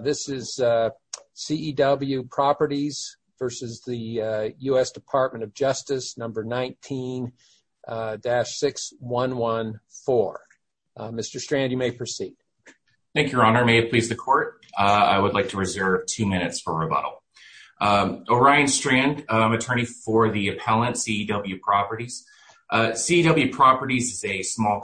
This is C.E.W. Properties v. U.S. Department of Justice, No. 19-6114. Mr. Strand, you may proceed. Thank you, Your Honor. May it please the Court? I would like to reserve two minutes for rebuttal. Orion Strand, I'm an attorney for the appellant, C.E.W. Properties. C.E.W. Properties is a small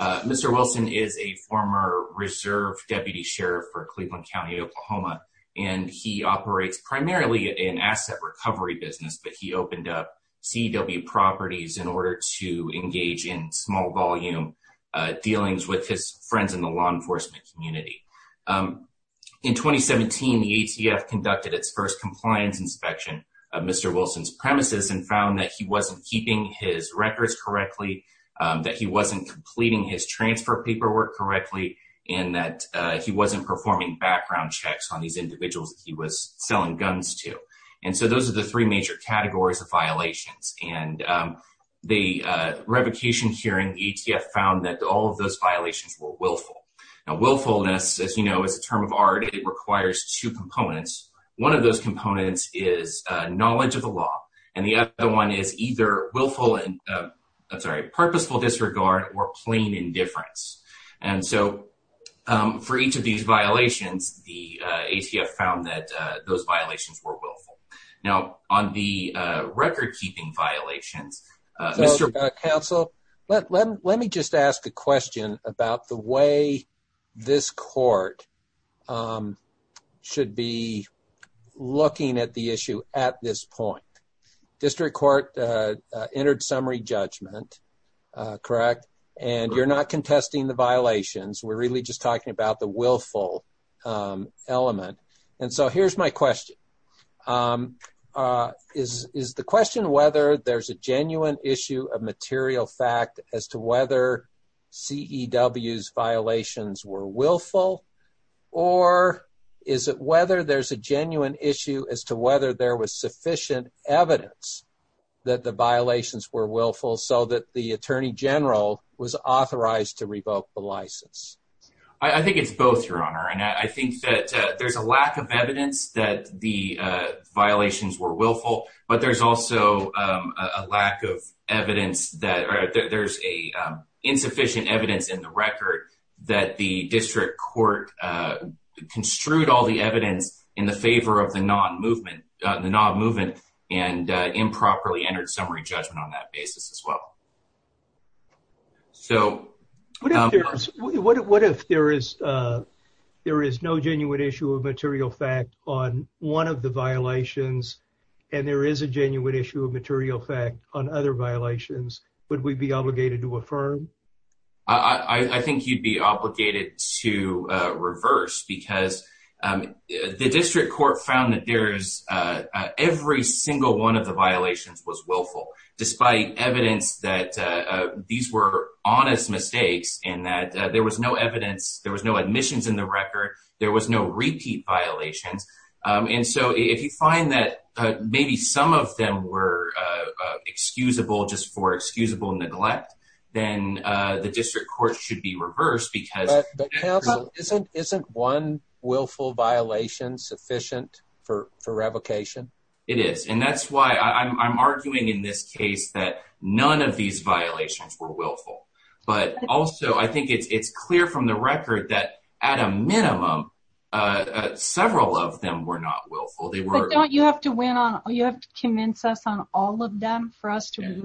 Mr. Wilson is a former reserve deputy sheriff for Cleveland County, Oklahoma, and he operates primarily in asset recovery business, but he opened up C.E.W. Properties in order to engage in small-volume dealings with his friends in the law enforcement community. In 2017, the ATF conducted its first compliance inspection of Mr. Wilson's premises and found that he wasn't keeping his records correctly, that he wasn't completing his transfer paperwork correctly, and that he wasn't performing background checks on these individuals he was selling guns to. And so those are the three major categories of violations, and the revocation hearing ATF found that all of those violations were willful. Now, willfulness, as you know, is a term of art. It requires two components. One of those components is knowledge of the law, and the other one is either willful and, I'm sorry, purposeful disregard or plain indifference. And so for each of these violations, the ATF found that those violations were willful. Now, on the record-keeping violations, Mr. Counsel, let me just ask a question about the way this court should be looking at the issue at this point. District Court entered summary judgment, correct? And you're not contesting the violations. We're really just talking about the willful element. And so here's my question. Is the question whether there's a genuine issue of or is it whether there's a genuine issue as to whether there was sufficient evidence that the violations were willful so that the Attorney General was authorized to revoke the license? I think it's both, Your Honor. And I think that there's a lack of evidence that the violations were willful, but there's also a lack of evidence that there's insufficient evidence in the record that the District Court construed all the evidence in the favor of the non-movement and improperly entered summary judgment on that basis as well. So what if there is no genuine issue of material fact on one of the violations and there is a genuine issue of material fact on other violations, would we be obligated to affirm? I think you'd be obligated to reverse because the District Court found that there's every single one of the violations was willful, despite evidence that these were honest mistakes and that there was no evidence, there was no admissions in the record, there was no repeat violations. And so if you find that maybe some of them were excusable just for excusable neglect, then the District Court should be reversed. But isn't one willful violation sufficient for revocation? It is. And that's why I'm arguing in this case that none of these violations were willful. But also I think it's clear from the record that at a minimum, several of them were not willful. But don't you have to win on, you have to convince us on all of them for us to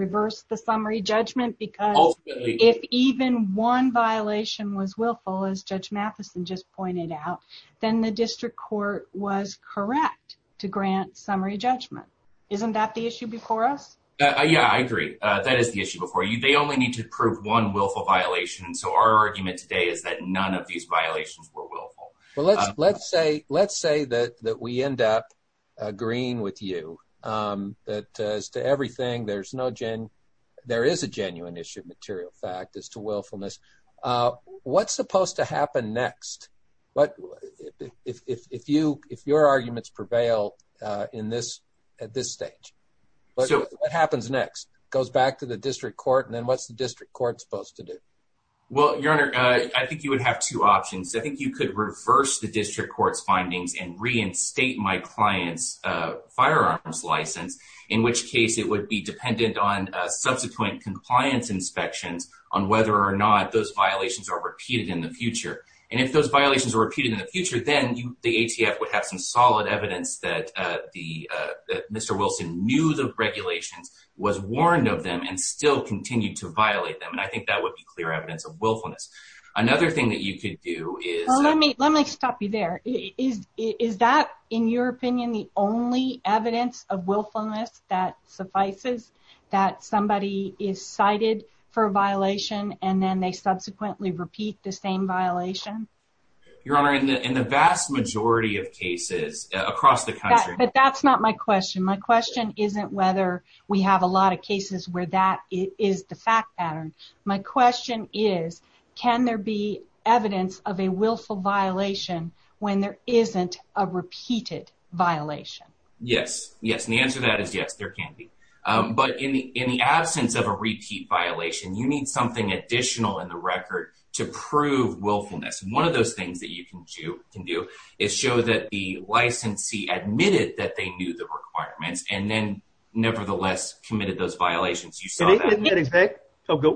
if even one violation was willful, as Judge Mathison just pointed out, then the District Court was correct to grant summary judgment. Isn't that the issue before us? Yeah, I agree. That is the issue before you. They only need to prove one willful violation. So our argument today is that none of these violations were willful. Well, let's say that we end up agreeing with you that as to everything, there is a genuine issue of material fact as to willfulness. What's supposed to happen next? If your arguments prevail at this stage, what happens next? Goes back to the District Court, and then what's the District Court supposed to do? Well, Your Honor, I think you would have two options. I think you could reverse the District Court's findings and reinstate my client's firearms license, in which case it would be dependent on subsequent compliance inspections on whether or not those violations are repeated in the future. And if those violations are repeated in the future, then the ATF would have some solid evidence that Mr. Wilson knew the regulations, was warned of them, and still continued to violate them. And I think that would be clear evidence of willfulness. Another thing that you could do is... Let me stop you there. Is that, in your opinion, the only evidence of willfulness that suffices, that somebody is cited for a violation and then they subsequently repeat the same violation? Your Honor, in the vast majority of cases across the country... But that's not my question. My question isn't whether we have a lot of cases where that is the fact pattern. My question is, can there be evidence of a willful violation when there isn't a repeated violation? Yes. Yes. And the answer to that is yes, there can be. But in the absence of a repeat violation, you need something additional in the record to prove willfulness. One of those things that you can do is show that the licensee is not a victim.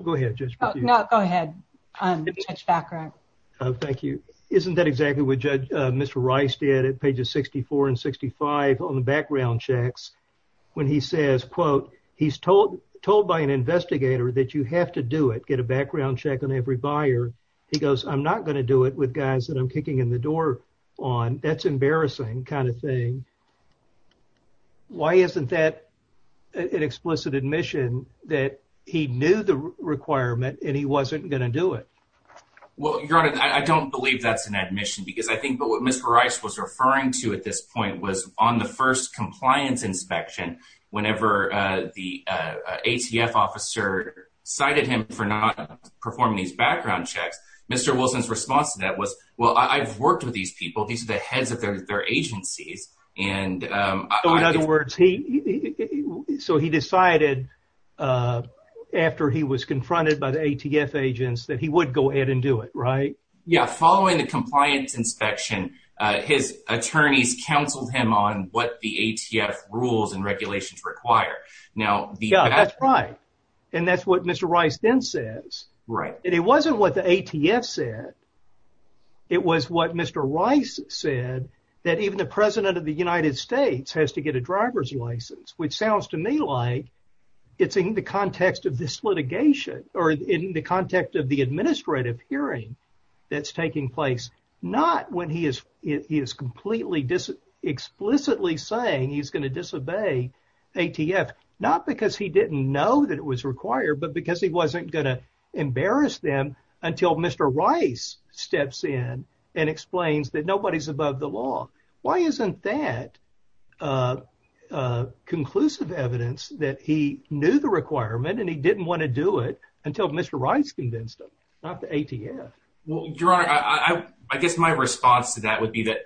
Go ahead, Judge. No, go ahead. Thank you. Isn't that exactly what Mr. Rice did at pages 64 and 65 on the background checks, when he says, quote, he's told by an investigator that you have to do it, get a background check on every buyer. He goes, I'm not going to do it with guys that I'm kicking in the door on. That's an explicit admission that he knew the requirement and he wasn't going to do it. Well, Your Honor, I don't believe that's an admission because I think what Mr. Rice was referring to at this point was on the first compliance inspection, whenever the ATF officer cited him for not performing these background checks, Mr. Wilson's response to that was, well, I've worked with these people. These are the heads of their agencies. And in other words, so he decided after he was confronted by the ATF agents that he would go ahead and do it, right? Yeah. Following the compliance inspection, his attorneys counseled him on what the ATF rules and regulations require. Now, that's right. And that's what Mr. Rice then says. Right. And it wasn't what the ATF said. It was what Mr. Rice said that even the president of the United States has to get a driver's license, which sounds to me like it's in the context of this litigation or in the context of the administrative hearing that's taking place. Not when he is, he is completely explicitly saying he's going to disobey ATF, not because he didn't know that it was required, but because he wasn't going to Why isn't that a conclusive evidence that he knew the requirement and he didn't want to do it until Mr. Rice convinced him, not the ATF? Well, your honor, I guess my response to that would be that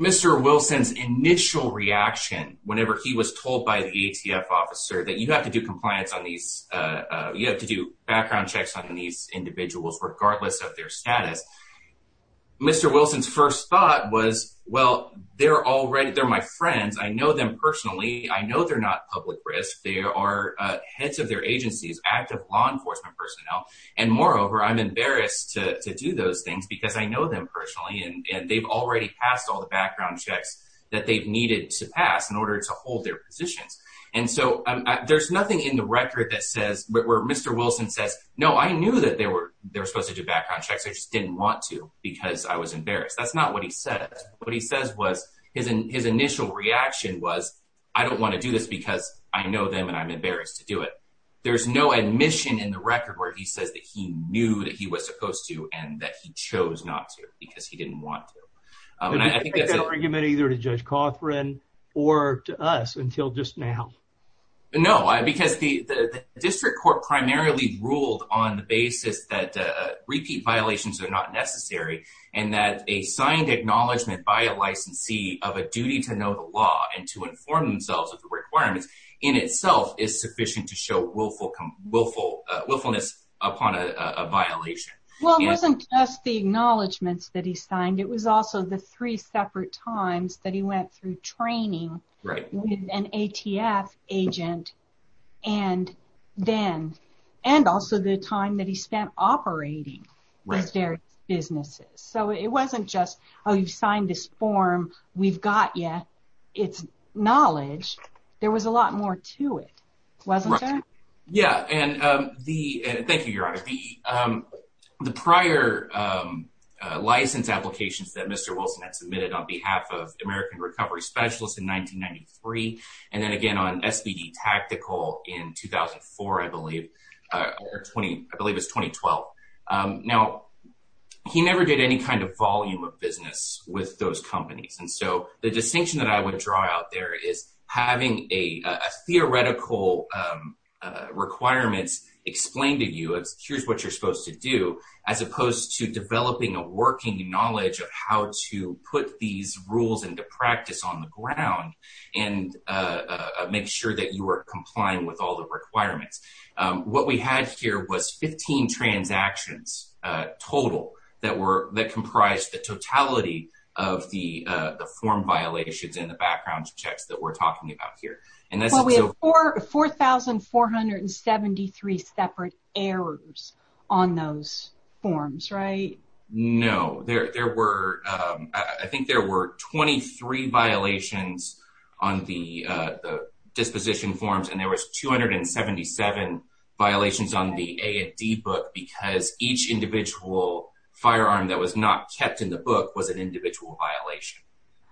Mr. Wilson's initial reaction whenever he was told by the ATF officer that you have to do compliance on these, you have to do background checks on these individuals, regardless of their background. My first thought was, well, they're already they're my friends. I know them personally. I know they're not public risk. They are heads of their agencies, active law enforcement personnel. And moreover, I'm embarrassed to do those things because I know them personally, and they've already passed all the background checks that they've needed to pass in order to hold their positions. And so there's nothing in the record that says where Mr. Wilson says, no, I knew that they were they're supposed to do background checks. I just didn't want to because I was What he says was his initial reaction was, I don't want to do this because I know them and I'm embarrassed to do it. There's no admission in the record where he says that he knew that he was supposed to and that he chose not to because he didn't want to. And I think that argument either to Judge Cothran or to us until just now. No, because the district court primarily ruled on the basis that repeat violations are not necessary. And that a signed acknowledgement by a licensee of a duty to know the law and to inform themselves of the requirements in itself is sufficient to show willfulness upon a violation. Well, it wasn't just the acknowledgements that he signed. It was also the three separate times that he went through training Right. And ATF agent. And then, and also the time that he spent operating with their businesses. So it wasn't just, oh, you've signed this form, we've got yet. It's knowledge. There was a lot more to it. Wasn't it? Yeah. And the Thank you, Your Honor. The prior license applications that Mr. Wilson had submitted on behalf of American Recovery Specialist in 1993. And then again, on SPD tactical in 2004, I believe, or 20, I believe it's 2012. Now, he never did any kind of volume of business with those companies. And so the distinction that I would draw out there is having a theoretical requirements explained to you as here's what you're supposed to do, as opposed to developing a working knowledge of how to put these rules into practice on the ground and make sure that you are complying with all the requirements. What we had here was 15 transactions total that were that comprised the totality of the form violations in the background checks that we're talking about here. Well, we have 4,473 separate errors on those forms, right? No, there were, I think there were 23 violations on the disposition forms and there was 277 violations on the A&D book because each individual firearm that was not kept in the book was an individual violation.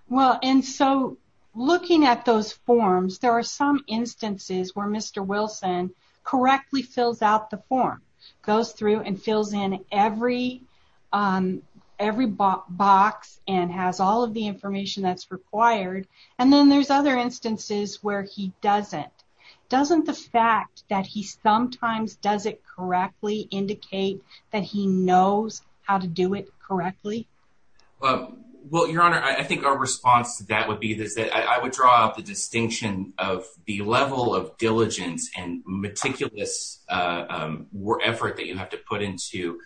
Well, and so looking at those forms, there are some instances where Mr. Wilson correctly fills out the form, goes through and fills in every box and has all of the information that's required. And then there's other instances where he doesn't. Doesn't the fact that he sometimes does it correctly indicate that he knows how to do it correctly? Well, your honor, I think our response to that would be this, that I would draw the distinction of the level of diligence and meticulous effort that you have to put into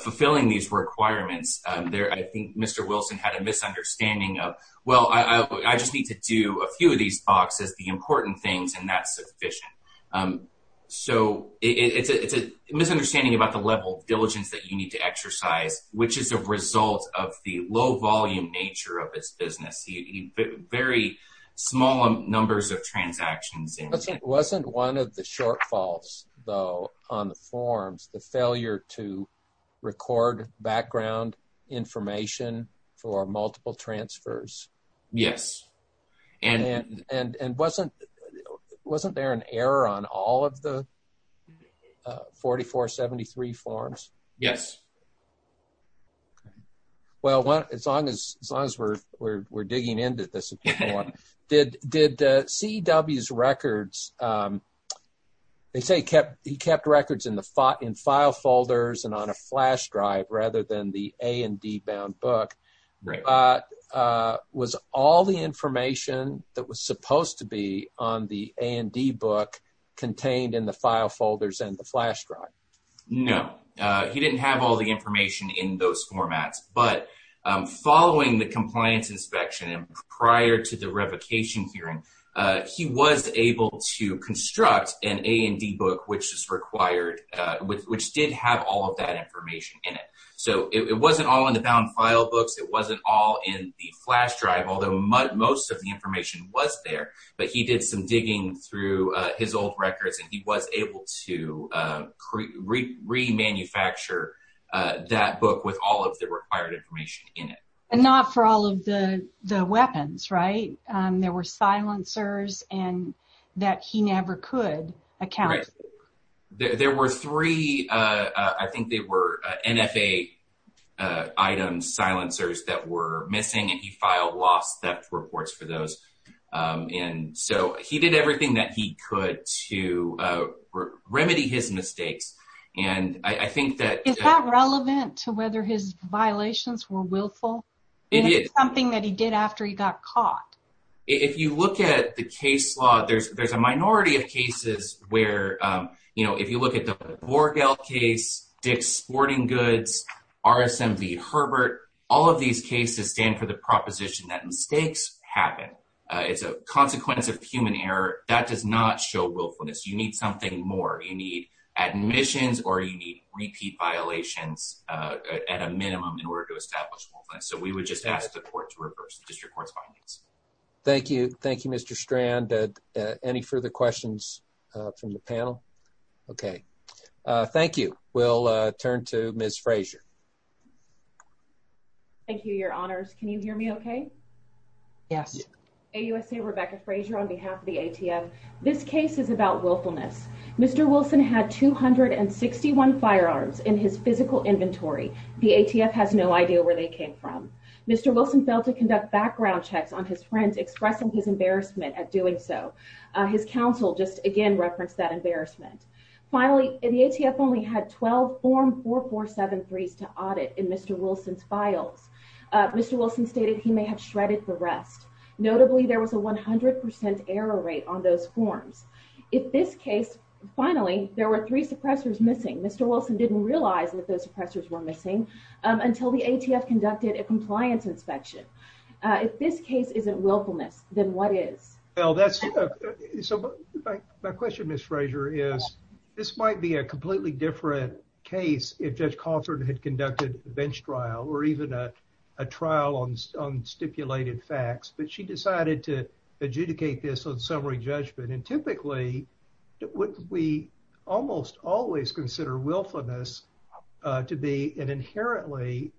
fulfilling these requirements there. I think Mr. Wilson had a misunderstanding of, well, I just need to do a few of these boxes, the important things, and that's sufficient. So it's a misunderstanding about the level of diligence that you need to exercise, which is a result of the low volume nature of his business. Very small numbers of transactions. Wasn't one of the shortfalls though on the forms, the failure to Wasn't there an error on all of the 4473 forms? Yes. Well, as long as we're digging into this, did CEW's records, they say he kept records in file folders and on a flash drive rather than the A and D bound book. Right. Was all the information that was supposed to be on the A and D book contained in the file folders and the flash drive? No, he didn't have all the information in those formats, but following the compliance inspection and prior to the revocation hearing, he was able to construct an A and D book, which is required, which did have all of that information in it. So it wasn't all in the bound file books. It wasn't all in the flash drive, although most of the information was there, but he did some digging through his old records and he was able to remanufacture that book with all of the required information in it. And not for all of the weapons, right? There were NFA item silencers that were missing and he filed lost theft reports for those. And so he did everything that he could to remedy his mistakes. And I think that... Is that relevant to whether his violations were willful? It is. Something that he did after he got caught? If you look at the case law, there's a minority of cases where, you know, if you look at the sporting goods, RSMV Herbert, all of these cases stand for the proposition that mistakes happen. It's a consequence of human error. That does not show willfulness. You need something more. You need admissions or you need repeat violations at a minimum in order to establish willfulness. So, we would just ask the court to reverse the district court's findings. Thank you. Thank you, Mr. Strand. Any further questions from the panel? Okay. Thank you. We'll turn to Ms. Frazier. Thank you, Your Honors. Can you hear me okay? Yes. AUSA Rebecca Frazier on behalf of the ATF. This case is about willfulness. Mr. Wilson had 261 firearms in his physical inventory. The ATF has no idea where they came from. Mr. Wilson failed to conduct background checks on his friends expressing his embarrassment at doing so. His counsel just, again, referenced that embarrassment. Finally, the ATF only had 12 Form 4473s to audit in Mr. Wilson's files. Mr. Wilson stated he may have shredded the rest. Notably, there was a 100% error rate on those forms. In this case, finally, there were three suppressors missing. Mr. Wilson didn't realize that those suppressors were missing until the ATF conducted a compliance inspection. If this case isn't willfulness, then what is? Well, my question, Ms. Frazier, is this might be a completely different case if Judge Cawthorne had conducted a bench trial or even a trial on stipulated facts, but she decided to adjudicate this on summary judgment. And typically, we almost always consider willfulness to be an inherently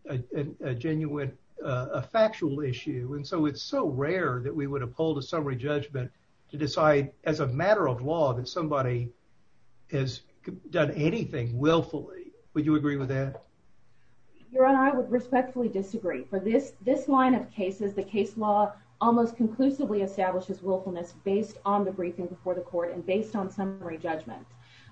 genuine, a factual issue. And so it's so rare that we would hold a summary judgment to decide as a matter of law that somebody has done anything willfully. Would you agree with that? Your Honor, I would respectfully disagree. For this line of cases, the case law almost conclusively establishes willfulness based on the briefing before the court and based on summary judgment.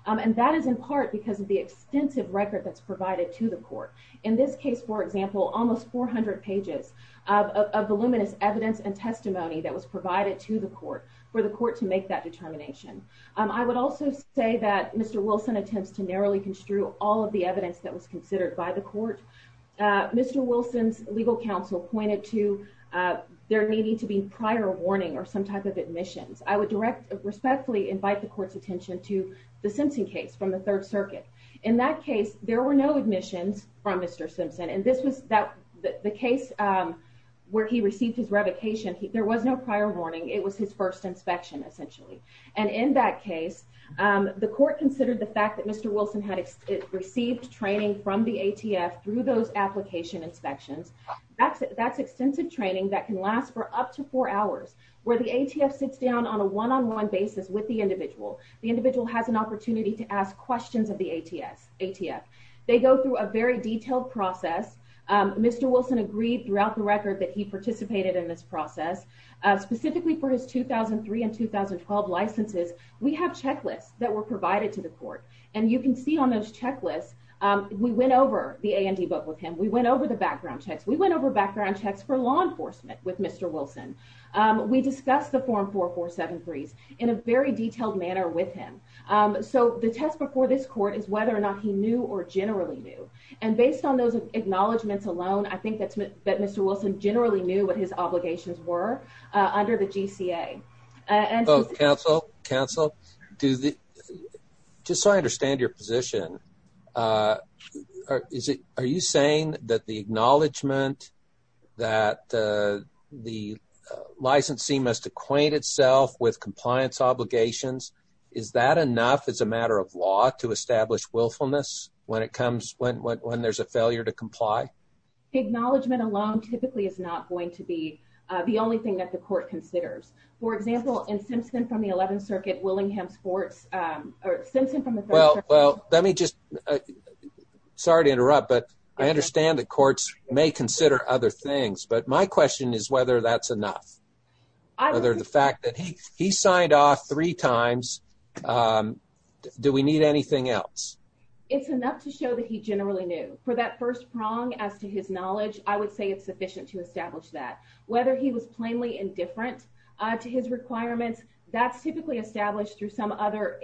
And that is in part because of the extensive record that's provided to the court. In this case, for example, almost 400 pages of the luminous evidence and evidence provided to the court for the court to make that determination. I would also say that Mr. Wilson attempts to narrowly construe all of the evidence that was considered by the court. Mr. Wilson's legal counsel pointed to there needing to be prior warning or some type of admissions. I would respectfully invite the court's attention to the Simpson case from the Third Circuit. In that case, there were no admissions from Mr. Simpson. And this was the case where he received his revocation. There was no prior warning. It was his first inspection, essentially. And in that case, the court considered the fact that Mr. Wilson had received training from the ATF through those application inspections. That's extensive training that can last for up to four hours, where the ATF sits down on a one-on-one basis with the individual. The individual has an opportunity to ask questions of the ATF. They go through a very detailed process. Mr. Wilson agreed throughout the record that he participated in this process. Specifically for his 2003 and 2012 licenses, we have checklists that were provided to the court. And you can see on those checklists, we went over the A&E book with him. We went over the background checks. We went over background checks for law enforcement with Mr. Wilson. We discussed the Form 4473s in a very detailed manner with him. So the test before this court is whether or not he knew or generally knew. And based on those acknowledgements alone, I think that Mr. Wilson generally knew what his obligations were under the GCA. Oh, counsel, counsel, just so I understand your position, are you saying that the acknowledgement that the licensee must acquaint itself with compliance when there's a failure to comply? Acknowledgement alone typically is not going to be the only thing that the court considers. For example, in Simpson from the 11th Circuit, Willingham Sports, or Simpson from the 3rd Circuit... Well, let me just, sorry to interrupt, but I understand that courts may consider other things. But my question is whether that's enough. Whether the fact that he signed off three times, do we need anything else? It's enough to show that he generally knew. For that first prong as to his knowledge, I would say it's sufficient to establish that. Whether he was plainly indifferent to his requirements, that's typically established through some other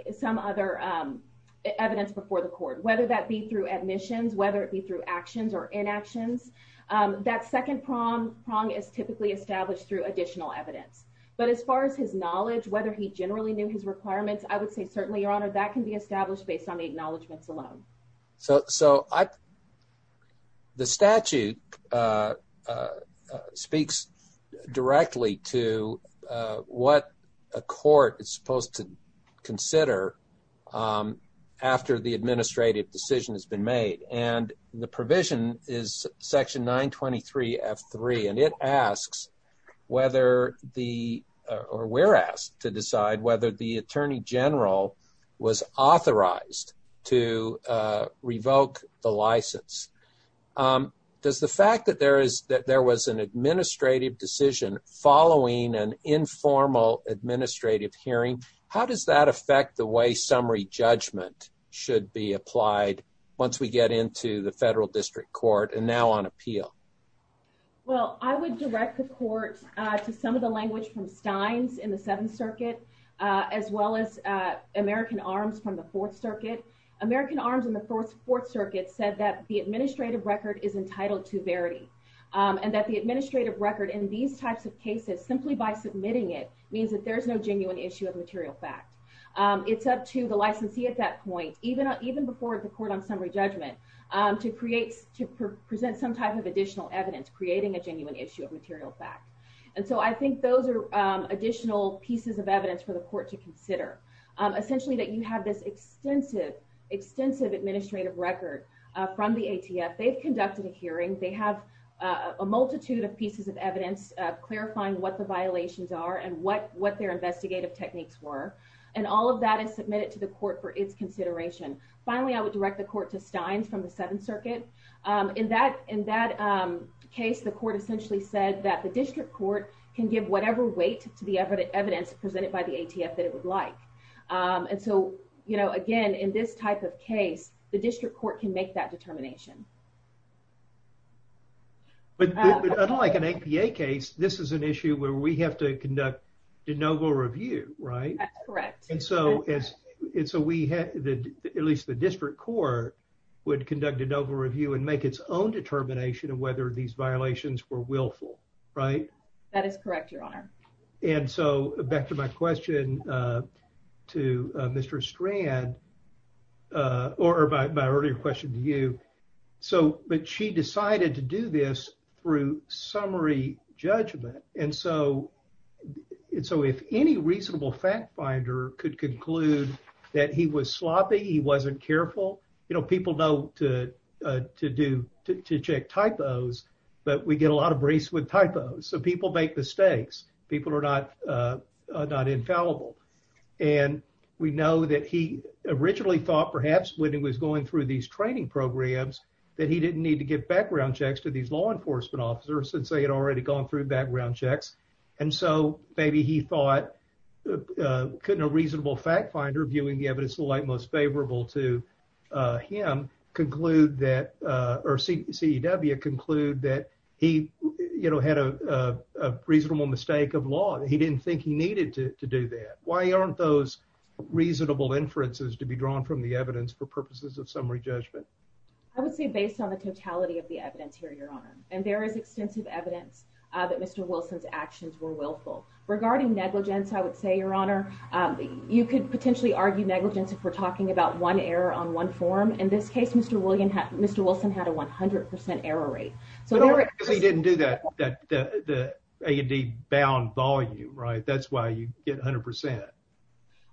evidence before the court, whether that be through admissions, whether it be through actions or inactions. That second prong is typically established through additional evidence. But as far as his knowledge, whether he generally knew his requirements, I would say that can be established based on the acknowledgements alone. So the statute speaks directly to what a court is supposed to consider after the administrative decision has been made. And the provision is section 923 F3, and it asks whether the, or we're asked to decide whether the attorney general was authorized to revoke the license. Does the fact that there is, that there was an administrative decision following an informal administrative hearing, how does that affect the way summary judgment should be applied once we get into the federal district court and now on appeal? Well, I would direct the court to some of the language from as well as American arms from the fourth circuit. American arms in the fourth circuit said that the administrative record is entitled to verity and that the administrative record in these types of cases simply by submitting it means that there's no genuine issue of material fact. It's up to the licensee at that point, even before the court on summary judgment to present some type of additional evidence, creating a genuine issue of material fact. And so I think those are additional pieces of evidence for the court to consider. Essentially that you have this extensive, extensive administrative record from the ATF. They've conducted a hearing. They have a multitude of pieces of evidence clarifying what the violations are and what their investigative techniques were. And all of that is submitted to the court for its consideration. Finally, I would direct the court to Steins from the seventh circuit. In that case, the court essentially said that the district court can give whatever weight to the evidence presented by the ATF that it would like. And so, you know, again, in this type of case, the district court can make that determination. But unlike an APA case, this is an issue where we have to conduct de novo review, right? That's correct. And so as it's a, we had the, at least the district court would conduct a novel review and make its own determination of whether these violations were willful, right? That is correct, your honor. And so back to my question, uh, to, uh, Mr. Strand, uh, or my earlier question to you. So, but she decided to do this through summary judgment. And so, and so if any reasonable fact finder could conclude that he was sloppy, he wasn't careful, you know, people know to, uh, to do, to, to check typos, but we get a lot of briefs with typos. So people make mistakes. People are not, uh, not infallible. And we know that he originally thought perhaps when he was going through these training programs, that he didn't need to give background checks to these law enforcement officers since they had already gone through background checks. And so maybe he thought, uh, couldn't a reasonable fact finder viewing the evidence of the light most favorable to, uh, him conclude that, uh, or CEW conclude that he, you know, had a, a reasonable mistake of law. He didn't think he needed to do that. Why aren't those reasonable inferences to be drawn from the evidence for purposes of summary judgment? I would say based on the totality of the evidence here, your honor, and there is extensive evidence that Mr. Wilson's actions were willful regarding negligence. I would say your honor, um, you could potentially argue negligence if we're talking about one error on one form. In this case, Mr. William, Mr. Wilson had a 100% error rate. So he didn't do that, that, that the A and D bound volume, right? That's why you get a hundred percent.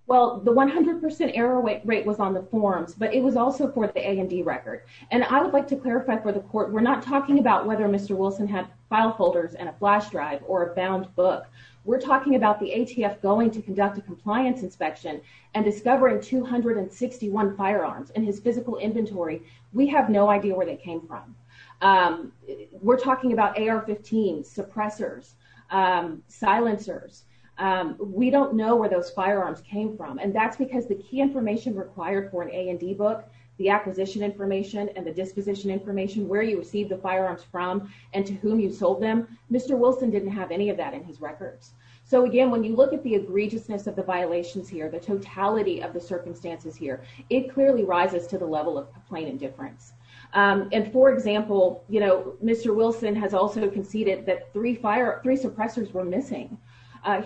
Well, the 100% error rate was on the forms, but it was also for the A and D record. And I would like to clarify for the court. We're not talking about whether Mr. Wilson had file folders and a flash drive or a bound book. We're talking about the ATF going to conduct a compliance inspection and discovering 261 firearms in his physical inventory. We have no idea where they came from. Um, we're talking about AR-15 suppressors, um, silencers. Um, we don't know where those firearms came from. And that's because the key information required for an A and D book, the acquisition information and the disposition information, where you received the firearms from and to whom you sold them. Mr. Wilson didn't have any of that in his records. So again, when you look at the egregiousness of the violations here, the totality of the circumstances here, it clearly rises to the level of plain indifference. Um, and for example, you know, Mr. Wilson has also conceded that three fire, three suppressors were missing.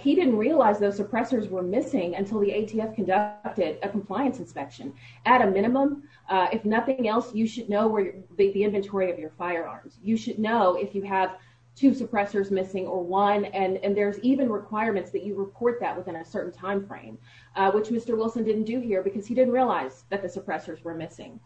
He didn't realize those suppressors were missing until the ATF conducted a compliance inspection at a minimum. Uh, if nothing else, you should know where the inventory of your firearms, you should know if you have two suppressors missing or one, and there's even requirements that you report that within a certain timeframe, uh, which Mr. Wilson didn't do here because he didn't realize that the suppressors were missing.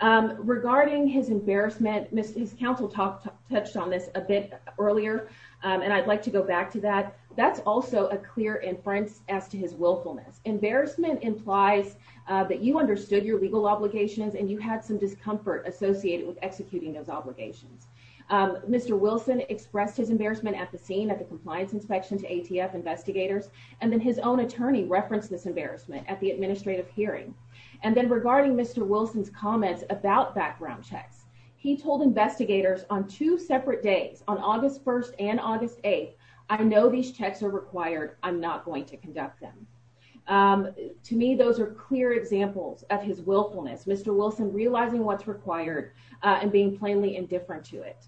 Um, regarding his embarrassment, his counsel talk touched on this a bit earlier. Um, and I'd like to go back to that. That's also a clear inference as to his willfulness. Embarrassment implies, uh, that you understood your legal obligations and you had some discomfort associated with executing those obligations. Um, Mr. Wilson expressed his embarrassment at the scene at the compliance inspection to ATF investigators. And then his own attorney referenced this embarrassment at the administrative hearing. And then regarding Mr. Wilson's comments about background checks, he told investigators on two separate days on August 1st and August 8th, I know these checks are required. I'm not going to conduct them. Um, to me, those are clear examples of his willfulness. Mr. Wilson realizing what's required, uh, and being plainly indifferent to it.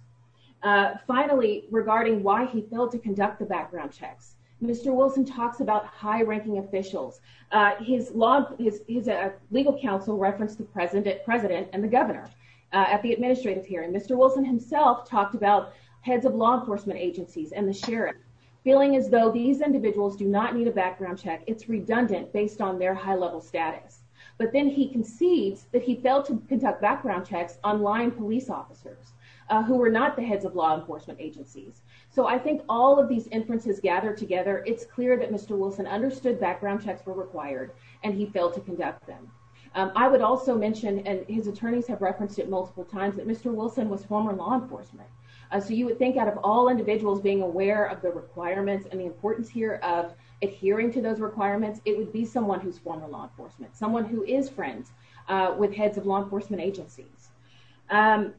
Uh, finally regarding why he failed to conduct the background checks. Mr. Wilson talks about high ranking officials. Uh, his law, his, his, uh, legal counsel referenced the president, president and the governor, uh, at the administrative hearing. Mr. Wilson himself talked about heads of law enforcement agencies and the sheriff feeling as though these individuals do not need a background check. It's redundant based on their high level status, but then he concedes that he failed to conduct background checks online police officers, uh, who were not the heads of law enforcement agencies. So I think all of these inferences gathered together, it's clear that Mr. Wilson understood background checks were required and he failed to conduct them. Um, I would also mention, and his attorneys have referenced it multiple times that Mr. Wilson was former law enforcement. Uh, so you would think out of all requirements and the importance here of adhering to those requirements, it would be someone who's former law enforcement, someone who is friends, uh, with heads of law enforcement agencies. Um,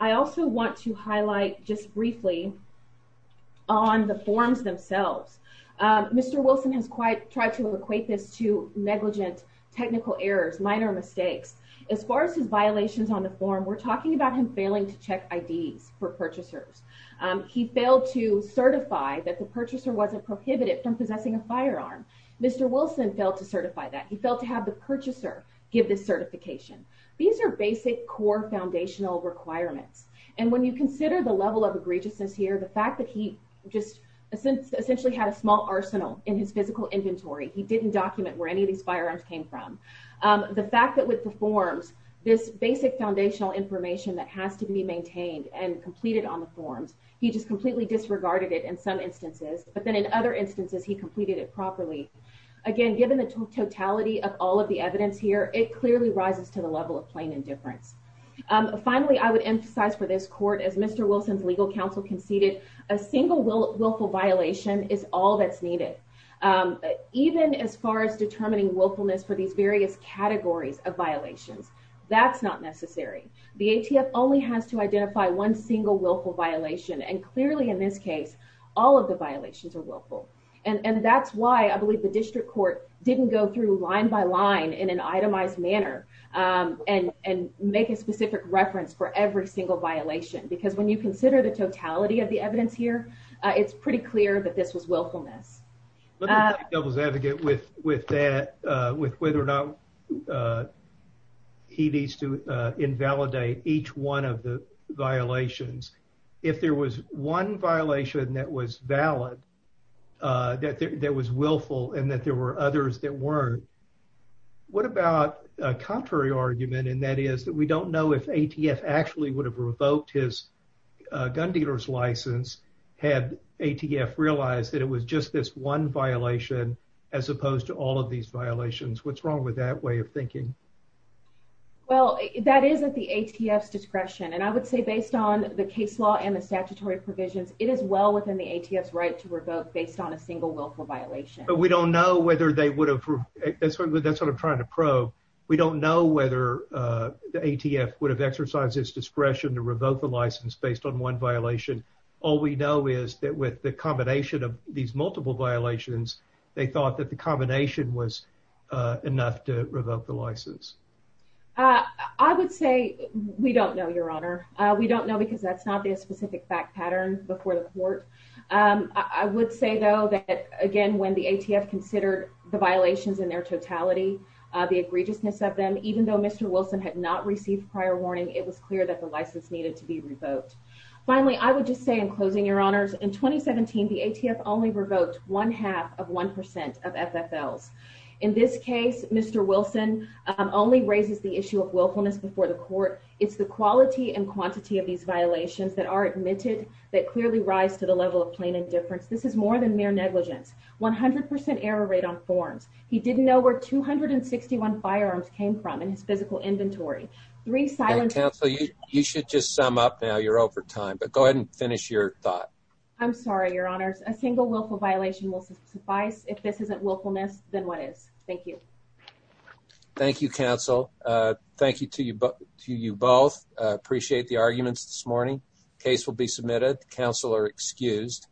I also want to highlight just briefly on the forms themselves. Um, Mr. Wilson has quite tried to equate this to negligent technical errors, minor mistakes. As far as his violations on the Um, he failed to certify that the purchaser wasn't prohibited from possessing a firearm. Mr. Wilson failed to certify that he felt to have the purchaser give this certification. These are basic core foundational requirements. And when you consider the level of egregiousness here, the fact that he just essentially had a small arsenal in his physical inventory, he didn't document where any of these firearms came from. Um, the fact that with the forms, this basic foundational information that has to be maintained and completed on the forms, he just completely disregarded it in some instances, but then in other instances, he completed it properly. Again, given the totality of all of the evidence here, it clearly rises to the level of plain indifference. Um, finally, I would emphasize for this court, as Mr. Wilson's legal counsel conceded a single willful violation is all that's not necessary. The ATF only has to identify one single willful violation. And clearly in this case, all of the violations are willful. And that's why I believe the district court didn't go through line by line in an itemized manner, um, and, and make a specific reference for every single violation. Because when you consider the totality of the evidence here, it's pretty clear that this willfulness was advocate with, with that, uh, with whether or not, uh, he needs to invalidate each one of the violations. If there was one violation that was valid, uh, that there was willful and that there were others that weren't, what about a contrary argument? And that is that we don't know if ATF actually would have revoked his, uh, gun dealers license had ATF realized that it was just this one violation as opposed to all of these violations. What's wrong with that way of thinking? Well, that is at the ATF discretion. And I would say based on the case law and the statutory provisions, it is well within the ATFs right to revoke based on a single willful violation. But we don't know whether they would have, that's what I'm trying to probe. We don't know whether, uh, the ATF would have exercised his discretion to revoke the license based on one violation. All we know is that with the combination of these multiple violations, they thought that the combination was, uh, enough to revoke the license. Uh, I would say we don't know your honor. Uh, we don't know because that's not the specific fact pattern before the court. Um, I would say though that again, when the ATF considered the violations in their totality, uh, the egregiousness of them, even though Mr. Wilson had not received prior warning, it was clear that the license needed to be revoked. Finally, I would just say in closing your honors in 2017, the ATF only revoked one half of 1% of FFLs. In this case, Mr. Wilson, um, only raises the issue of willfulness before the court. It's the quality and quantity of these violations that are admitted that clearly rise to the level of plain indifference. This is more than mere negligence, 100% error rate on forms. He didn't know where 261 firearms came from in his physical inventory. Three silent counsel. You should just sum up now you're over time, but go ahead and finish your thought. I'm sorry. Your honors, a single willful violation will suffice. If this isn't willfulness, then what is? Thank you. Thank you. Counsel. Uh, thank you to you. But to you both appreciate the arguments this morning case will be submitted. Counselor excused.